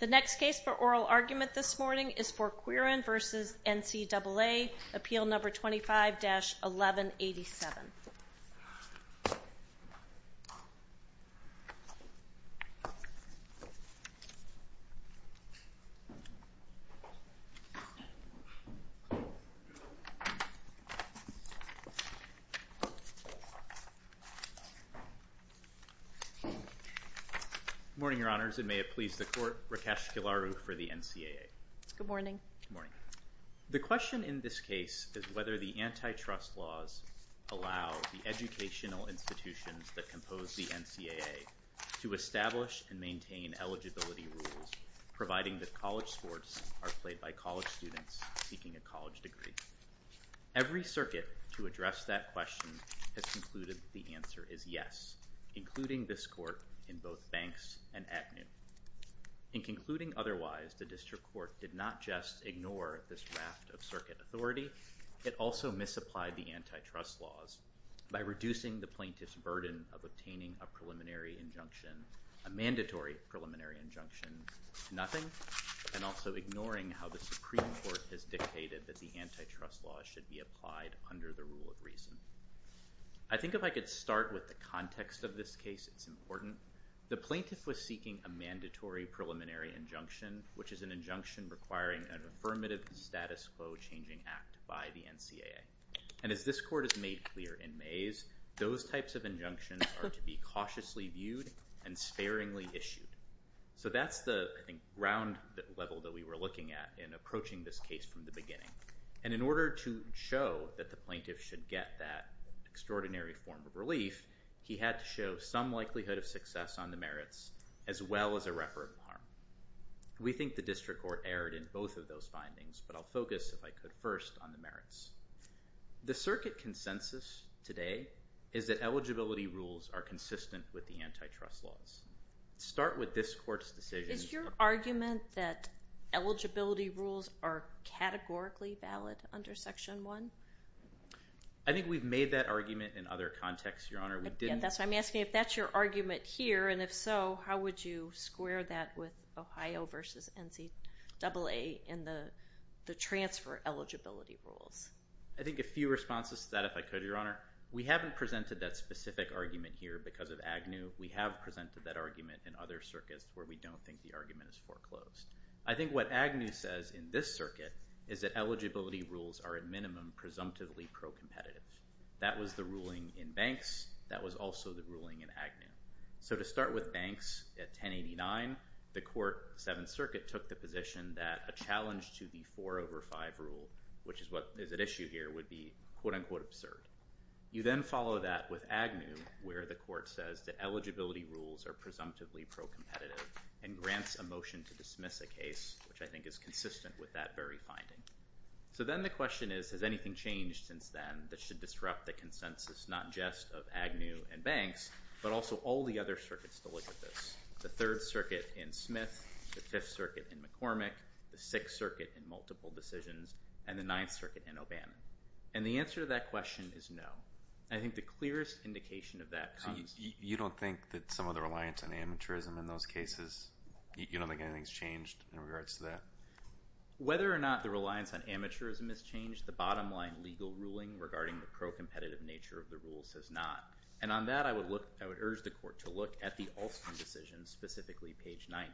The next case for oral argument this morning is Fourqurean v. NCAA, appeal number 25-1187. Good morning, your honors, and may it please the court, Rakesh Gillaru for the NCAA. Good morning. The question in this case is whether the antitrust laws allow the educational institutions that compose the NCAA to establish and maintain eligibility rules, providing that college sports are played by college students seeking a college degree. Every circuit to address that question has concluded that the answer is yes, including this court in both Banks and ACNU. In concluding otherwise, the district court did not just ignore this raft of circuit authority, it also misapplied the antitrust laws by reducing the plaintiff's burden of obtaining a preliminary injunction, a mandatory preliminary injunction to nothing, and also ignoring how the Supreme Court has dictated that the antitrust law should be applied under the rule of reason. I think if I could start with the context of this case, it's important. The plaintiff was seeking a mandatory preliminary injunction, which is an injunction requiring an affirmative status quo changing act by the NCAA. And as this court has made clear in May's, those types of injunctions are to be cautiously viewed and sparingly issued. So that's the ground level that we were looking at in approaching this case from the beginning. And in order to show that the plaintiff should get that extraordinary form of relief, he had to show some likelihood of success on the merits as well as a reprimand. We think the district court erred in both of those findings, but I'll focus, if I could, first on the merits. The circuit consensus today is that eligibility rules are consistent with the antitrust laws. Start with this court's decision. Is your argument that eligibility rules are categorically valid under Section 1? I think we've made that argument in other contexts, Your Honor. I'm asking if that's your argument here, and if so, how would you square that with Ohio versus NCAA in the transfer eligibility rules? I think a few responses to that, if I could, Your Honor. We haven't presented that specific argument here because of Agnew. We have presented that argument in other circuits where we don't think the argument is foreclosed. I think what Agnew says in this circuit is that eligibility rules are, at minimum, presumptively pro-competitive. That was the ruling in Banks. That was also the ruling in Agnew. So to start with Banks at 1089, the court, Seventh Circuit, took the position that a challenge to the 4 over 5 rule, which is what is at issue here, would be quote-unquote absurd. You then follow that with Agnew where the court says that eligibility rules are presumptively pro-competitive and grants a motion to dismiss a case, which I think is consistent with that very finding. So then the question is, has anything changed since then that should disrupt the consensus not just of Agnew and Banks, but also all the other circuits to look at this? The Third Circuit in Smith, the Fifth Circuit in McCormick, the Sixth Circuit in multiple decisions, and the Ninth Circuit in O'Bannon. And the answer to that question is no. I think the clearest indication of that comes. You don't think that some of the reliance on amateurism in those cases, you don't think anything has changed in regards to that? Whether or not the reliance on amateurism has changed, the bottom line legal ruling regarding the pro-competitive nature of the rules has not. And on that, I would urge the court to look at the Alston decision, specifically page 90,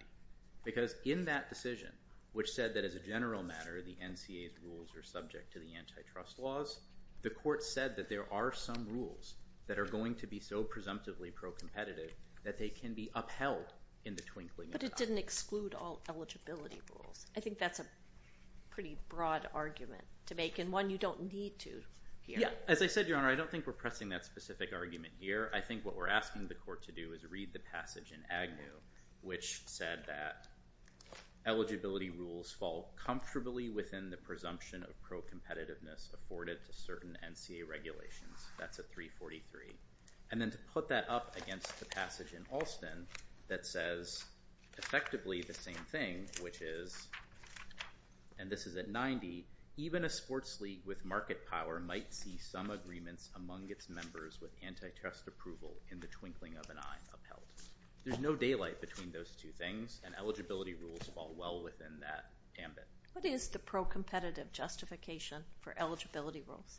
because in that decision, which said that as a general matter the NCA's rules are subject to the antitrust laws, the court said that there are some rules that are going to be so presumptively pro-competitive that they can be upheld in the twinkling of an eye. But it didn't exclude all eligibility rules. I think that's a pretty broad argument to make and one you don't need to hear. Yeah. As I said, Your Honor, I don't think we're pressing that specific argument here. I think what we're asking the court to do is read the passage in Agnew, which said that eligibility rules fall comfortably within the presumption of pro-competitiveness afforded to certain NCA regulations. That's at 343. And then to put that up against the passage in Alston that says effectively the same thing, which is, and this is at 90, even a sports league with market power might see some agreements among its members with antitrust approval in the twinkling of an eye upheld. There's no daylight between those two things, and eligibility rules fall well within that ambit. What is the pro-competitive justification for eligibility rules?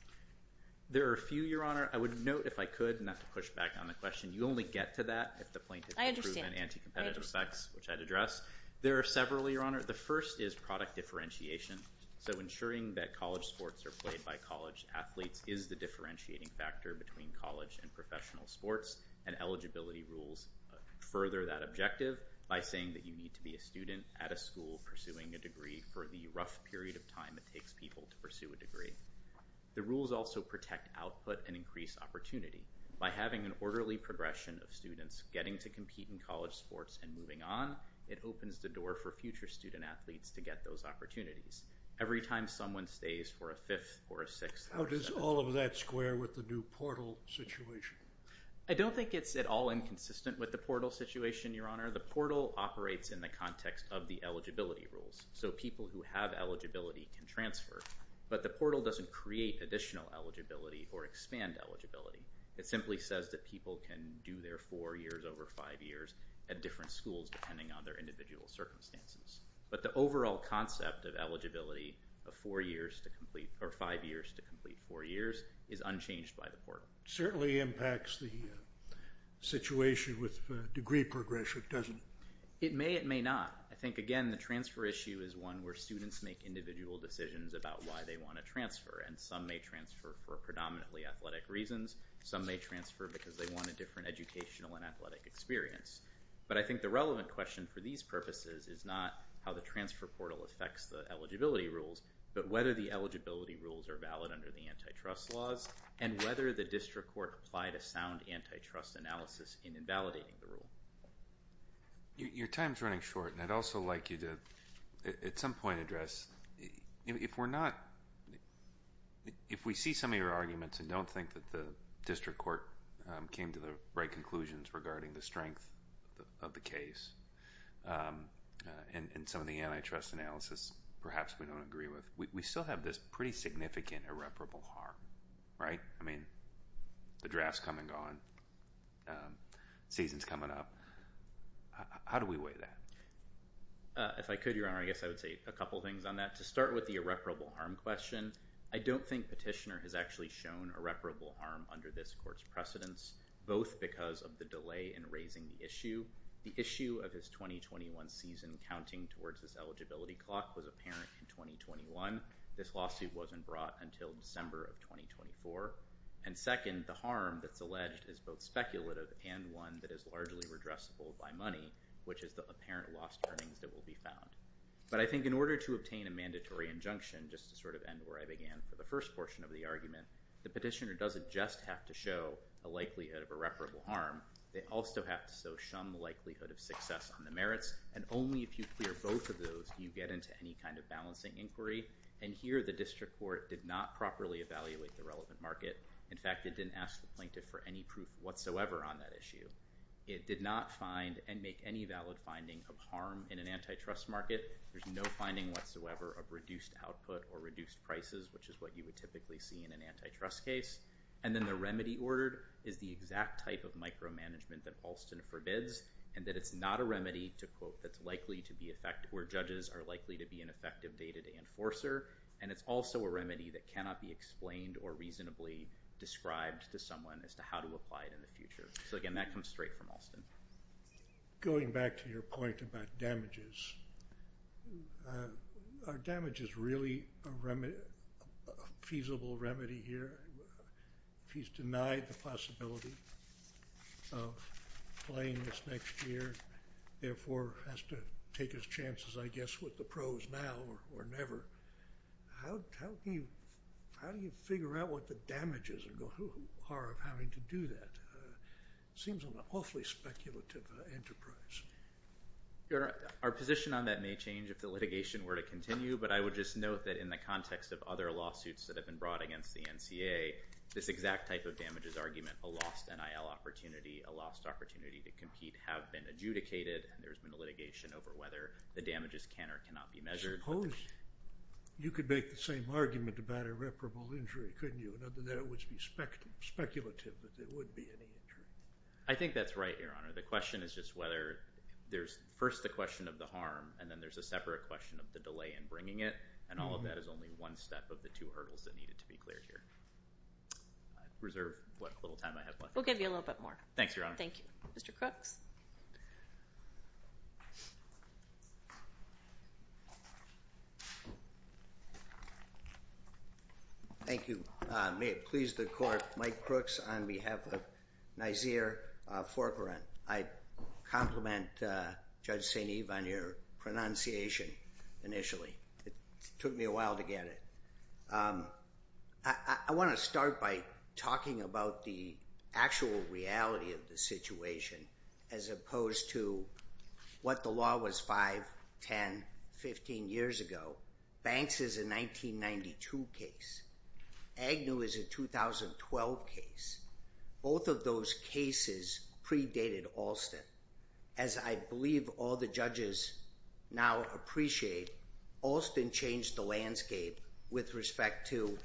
There are a few, Your Honor. I would note, if I could, not to push back on the question, you only get to that if the plaintiff can prove an anti-competitive effects, which I'd address. There are several, Your Honor. The first is product differentiation. So ensuring that college sports are played by college athletes is the differentiating factor between college and professional sports, and eligibility rules further that objective by saying that you need to be a student at a school pursuing a degree for the rough period of time it takes people to pursue a degree. The rules also protect output and increase opportunity. By having an orderly progression of students getting to compete in college sports and moving on, it opens the door for future student athletes to get those opportunities. Every time someone stays for a fifth or a sixth or a seventh. How does all of that square with the new portal situation? I don't think it's at all inconsistent with the portal situation, Your Honor. The portal operates in the context of the eligibility rules, so people who have eligibility can transfer, but the portal doesn't create additional eligibility or expand eligibility. It simply says that people can do their four years over five years at different schools depending on their individual circumstances. But the overall concept of eligibility of five years to complete four years is unchanged by the portal. It certainly impacts the situation with degree progression, doesn't it? It may. It may not. I think, again, the transfer issue is one where students make individual decisions about why they want to transfer, and some may transfer for predominantly athletic reasons. Some may transfer because they want a different educational and athletic experience. But I think the relevant question for these purposes is not how the transfer portal affects the eligibility rules, but whether the eligibility rules are valid under the antitrust laws and whether the district court applied a sound antitrust analysis in invalidating the rule. Your time is running short, and I'd also like you to, at some point, address, if we're not, if we see some of your arguments and don't think that the district court came to the right conclusions regarding the strength of the case and some of the antitrust analysis, perhaps we don't agree with, we still have this pretty significant irreparable harm, right? I mean, the draft's come and gone, season's coming up. How do we weigh that? If I could, Your Honor, I guess I would say a couple things on that. To start with the irreparable harm question, I don't think Petitioner has actually shown irreparable harm under this court's precedence, both because of the delay in raising the issue. The issue of his 2021 season counting towards his eligibility clock was apparent in 2021. This lawsuit wasn't brought until December of 2024. And second, the harm that's alleged is both speculative and one that is largely redressable by money, which is the apparent lost earnings that will be found. But I think in order to obtain a mandatory injunction, just to sort of end where I began for the first portion of the argument, the Petitioner doesn't just have to show a likelihood of irreparable harm. They also have to show some likelihood of success on the merits. And only if you clear both of those do you get into any kind of balancing inquiry. And here the district court did not properly evaluate the relevant market. In fact, it didn't ask the plaintiff for any proof whatsoever on that issue. It did not find and make any valid finding of harm in an antitrust market. There's no finding whatsoever of reduced output or reduced prices, which is what you would typically see in an antitrust case. And then the remedy ordered is the exact type of micromanagement that Alston forbids and that it's not a remedy to quote that's likely to be effective where judges are likely to be an effective day-to-day enforcer. And it's also a remedy that cannot be explained or reasonably described to someone as to how to apply it in the future. So, again, that comes straight from Alston. Going back to your point about damages, are damages really a feasible remedy here? He's denied the possibility of playing this next year, therefore has to take his chances, I guess, with the pros now or never. How do you figure out what the damages are of having to do that? It seems an awfully speculative enterprise. Your Honor, our position on that may change if the litigation were to continue, but I would just note that in the context of other lawsuits that have been brought against the NCA, this exact type of damages argument, a lost NIL opportunity, a lost opportunity to compete, have been adjudicated. There's been a litigation over whether the damages can or cannot be measured. I suppose you could make the same argument about irreparable injury, couldn't you? Other than that, it would be speculative that there would be any injury. I think that's right, Your Honor. The question is just whether there's first the question of the harm, and then there's a separate question of the delay in bringing it, and all of that is only one step of the two hurdles that needed to be cleared here. I reserve what little time I have left. We'll give you a little bit more. Thanks, Your Honor. Thank you. Mr. Crooks? Thank you. May it please the Court. Mike Crooks on behalf of NYSEER Forcorrent. I compliment Judge St. Eve on your pronunciation initially. It took me a while to get it. I want to start by talking about the actual reality of the situation as opposed to what the law was 5, 10, 15 years ago. Banks is a 1992 case. Agnew is a 2012 case. Both of those cases predated Alston. As I believe all the judges now appreciate, Alston changed the landscape with respect to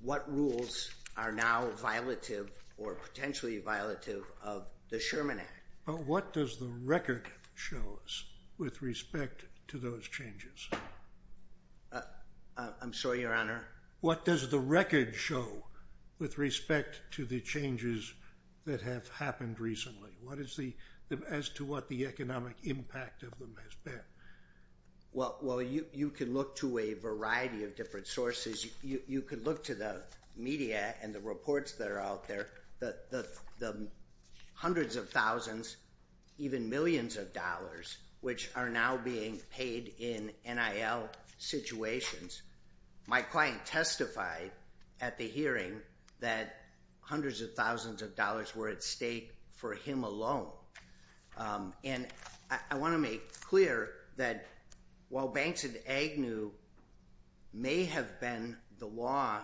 what rules are now violative or potentially violative of the Sherman Act. But what does the record show us with respect to those changes? I'm sorry, Your Honor? What does the record show with respect to the changes that have happened recently? As to what the economic impact of them has been? Well, you can look to a variety of different sources. You can look to the media and the reports that are out there. The hundreds of thousands, even millions of dollars, which are now being paid in NIL situations. My client testified at the hearing that hundreds of thousands of dollars were at stake for him alone. And I want to make clear that while banks and Agnew may have been the law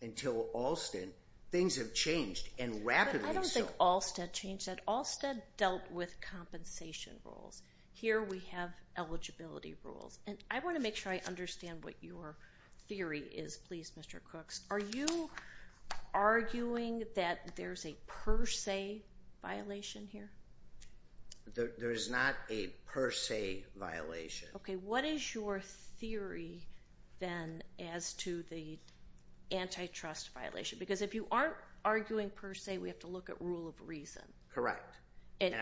until Alston, things have changed and rapidly so. But I don't think Alston changed that. Alston dealt with compensation rules. Here we have eligibility rules. And I want to make sure I understand what your theory is, please, Mr. Cooks. Are you arguing that there's a per se violation here? There is not a per se violation. Okay. What is your theory then as to the antitrust violation? Because if you aren't arguing per se, we have to look at rule of reason. Correct.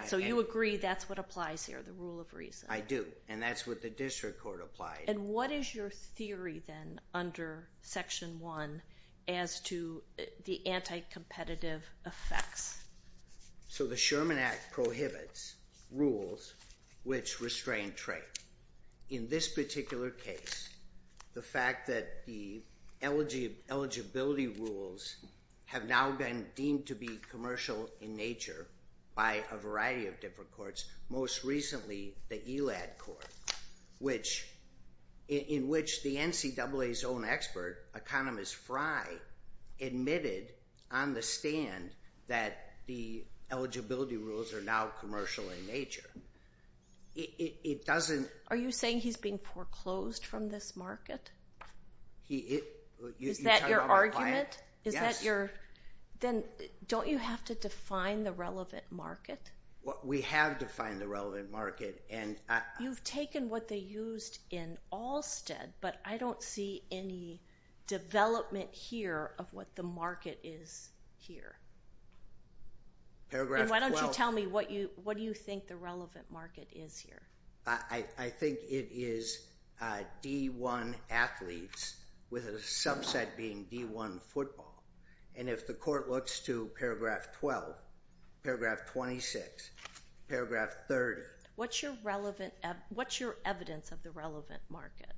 So you agree that's what applies here, the rule of reason? I do. And that's what the district court applied. And what is your theory then under Section 1 as to the anti-competitive effects? So the Sherman Act prohibits rules which restrain trade. In this particular case, the fact that the eligibility rules have now been deemed to be commercial in nature by a variety of different courts, most recently the ELAD court, in which the NCAA's own expert, economist Fry, admitted on the stand that the eligibility rules are now commercial in nature. Are you saying he's being foreclosed from this market? Is that your argument? Yes. Then don't you have to define the relevant market? We have defined the relevant market. You've taken what they used in Allstead, but I don't see any development here of what the market is here. And why don't you tell me what you think the relevant market is here? I think it is D1 athletes with a subset being D1 football. And if the court looks to Paragraph 12, Paragraph 26, Paragraph 30. What's your evidence of the relevant market?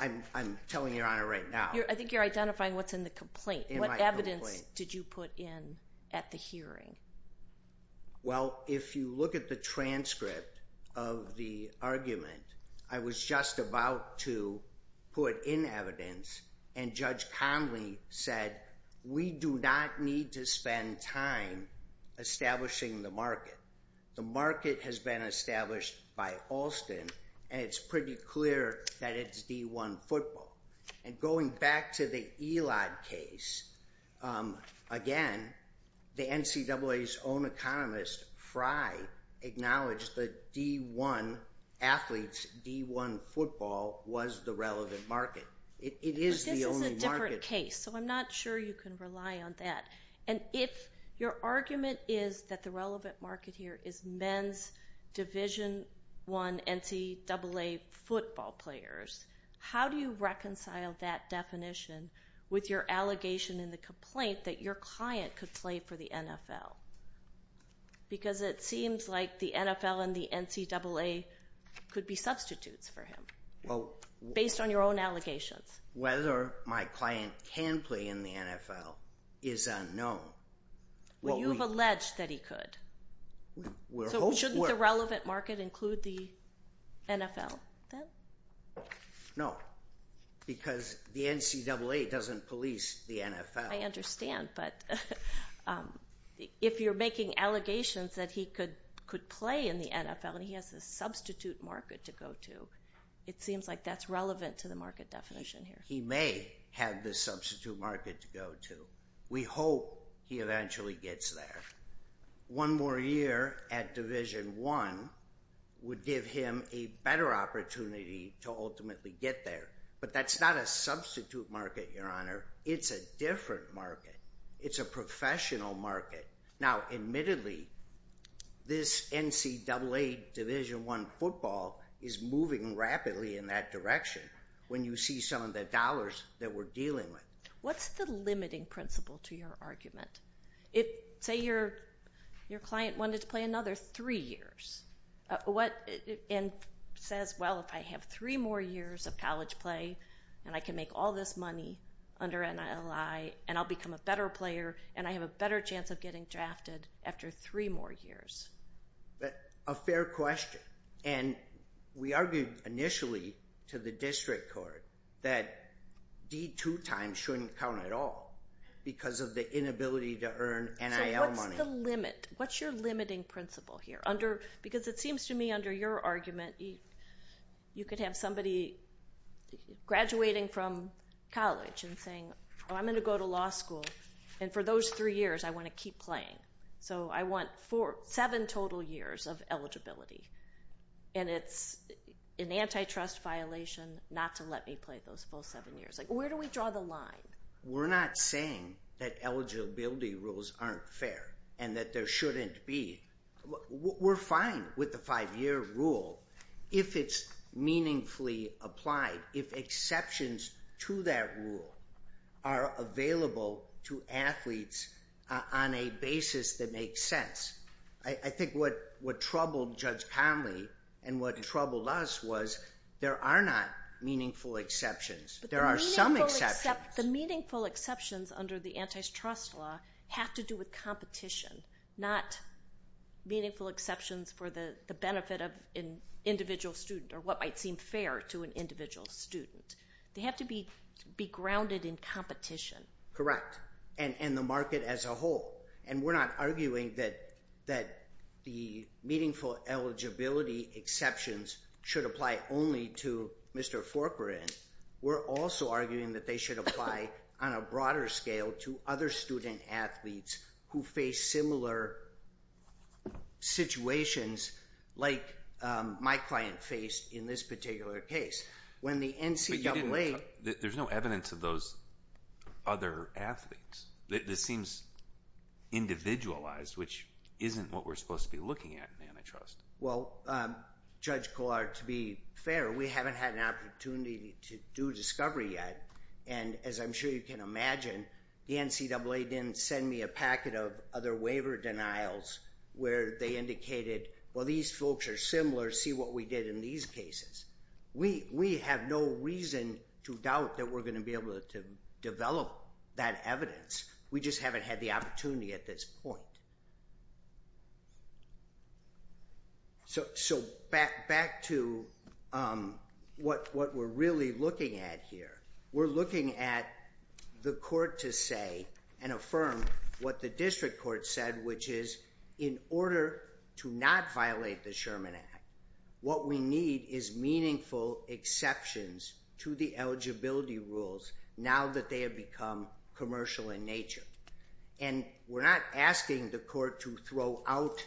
I'm telling you, Your Honor, right now. I think you're identifying what's in the complaint. What evidence did you put in at the hearing? Well, if you look at the transcript of the argument, I was just about to put in evidence, and Judge Conley said we do not need to spend time establishing the market. The market has been established by Allstead, and it's pretty clear that it's D1 football. And going back to the Elad case, again, the NCAA's own economist, Fry, acknowledged that D1 athletes, D1 football was the relevant market. It is the only market. But this is a different case, so I'm not sure you can rely on that. And if your argument is that the relevant market here is men's Division I NCAA football players, how do you reconcile that definition with your allegation in the complaint that your client could play for the NFL? Because it seems like the NFL and the NCAA could be substitutes for him based on your own allegations. Whether my client can play in the NFL is unknown. Well, you've alleged that he could. So shouldn't the relevant market include the NFL then? No, because the NCAA doesn't police the NFL. I understand, but if you're making allegations that he could play in the NFL and he has a substitute market to go to, it seems like that's relevant to the market definition here. He may have the substitute market to go to. We hope he eventually gets there. One more year at Division I would give him a better opportunity to ultimately get there. But that's not a substitute market, Your Honor. It's a different market. It's a professional market. Now, admittedly, this NCAA Division I football is moving rapidly in that direction when you see some of the dollars that we're dealing with. What's the limiting principle to your argument? Say your client wanted to play another three years and says, well, if I have three more years of college play and I can make all this money under NLI and I'll become a better player and I have a better chance of getting drafted after three more years. A fair question. And we argued initially to the district court that D2 time shouldn't count at all because of the inability to earn NIL money. So what's the limit? What's your limiting principle here? Because it seems to me under your argument you could have somebody graduating from college and saying, oh, I'm going to go to law school, and for those three years I want to keep playing. So I want seven total years of eligibility. And it's an antitrust violation not to let me play those full seven years. Where do we draw the line? We're not saying that eligibility rules aren't fair and that there shouldn't be. We're fine with the five-year rule if it's meaningfully applied, if exceptions to that rule are available to athletes on a basis that makes sense. I think what troubled Judge Conley and what troubled us was there are not meaningful exceptions. There are some exceptions. The meaningful exceptions under the antitrust law have to do with competition, not meaningful exceptions for the benefit of an individual student or what might seem fair to an individual student. They have to be grounded in competition. Correct, and the market as a whole. And we're not arguing that the meaningful eligibility exceptions should apply only to Mr. Forkerin. We're also arguing that they should apply on a broader scale to other student athletes who face similar situations like my client faced in this particular case. But there's no evidence of those other athletes. This seems individualized, which isn't what we're supposed to be looking at in antitrust. Well, Judge Collard, to be fair, we haven't had an opportunity to do discovery yet. And as I'm sure you can imagine, the NCAA didn't send me a packet of other waiver denials where they indicated, well, these folks are similar. See what we did in these cases. We have no reason to doubt that we're going to be able to develop that evidence. We just haven't had the opportunity at this point. So back to what we're really looking at here. We're looking at the court to say and affirm what the district court said, which is in order to not violate the Sherman Act, what we need is meaningful exceptions to the eligibility rules now that they have become commercial in nature. And we're not asking the court to throw out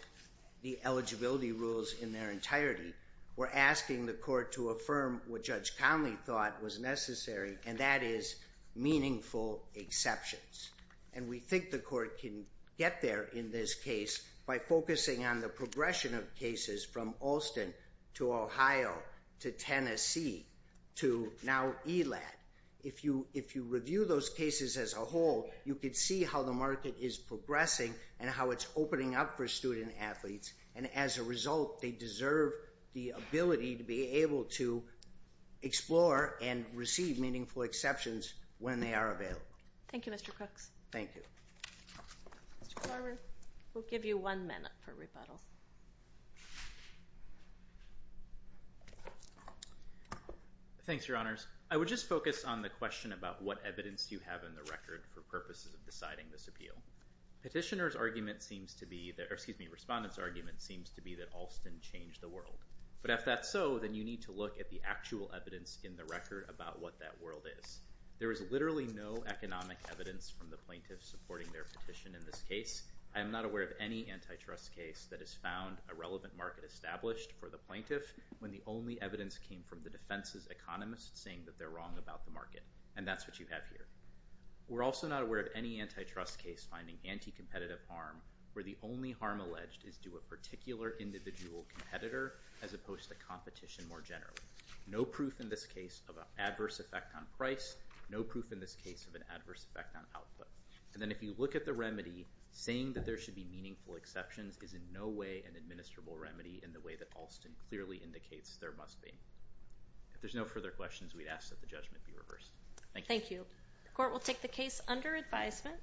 the eligibility rules in their entirety. We're asking the court to affirm what Judge Conley thought was necessary, and that is meaningful exceptions. And we think the court can get there in this case by focusing on the progression of cases from Alston to Ohio to Tennessee to now ELAD. If you review those cases as a whole, you can see how the market is progressing and how it's opening up for student athletes, and as a result they deserve the ability to be able to explore and receive meaningful exceptions when they are available. Thank you, Mr. Crooks. Thank you. Mr. Carver, we'll give you one minute for rebuttal. Thanks, Your Honors. I would just focus on the question about what evidence you have in the record for purposes of deciding this appeal. Petitioner's argument seems to be, or excuse me, Respondent's argument seems to be that Alston changed the world. But if that's so, then you need to look at the actual evidence in the record about what that world is. There is literally no economic evidence from the plaintiffs supporting their petition in this case. I am not aware of any antitrust case that has found a relevant market established for the plaintiff when the only evidence came from the defense's economist saying that they're wrong about the market. And that's what you have here. We're also not aware of any antitrust case finding anti-competitive harm where the only harm alleged is due a particular individual competitor as opposed to competition more generally. No proof in this case of an adverse effect on price. No proof in this case of an adverse effect on output. And then if you look at the remedy, saying that there should be meaningful exceptions is in no way an administrable remedy in the way that Alston clearly indicates there must be. If there's no further questions, we'd ask that the judgment be reversed. Thank you. Thank you. Court will take the case under advisement.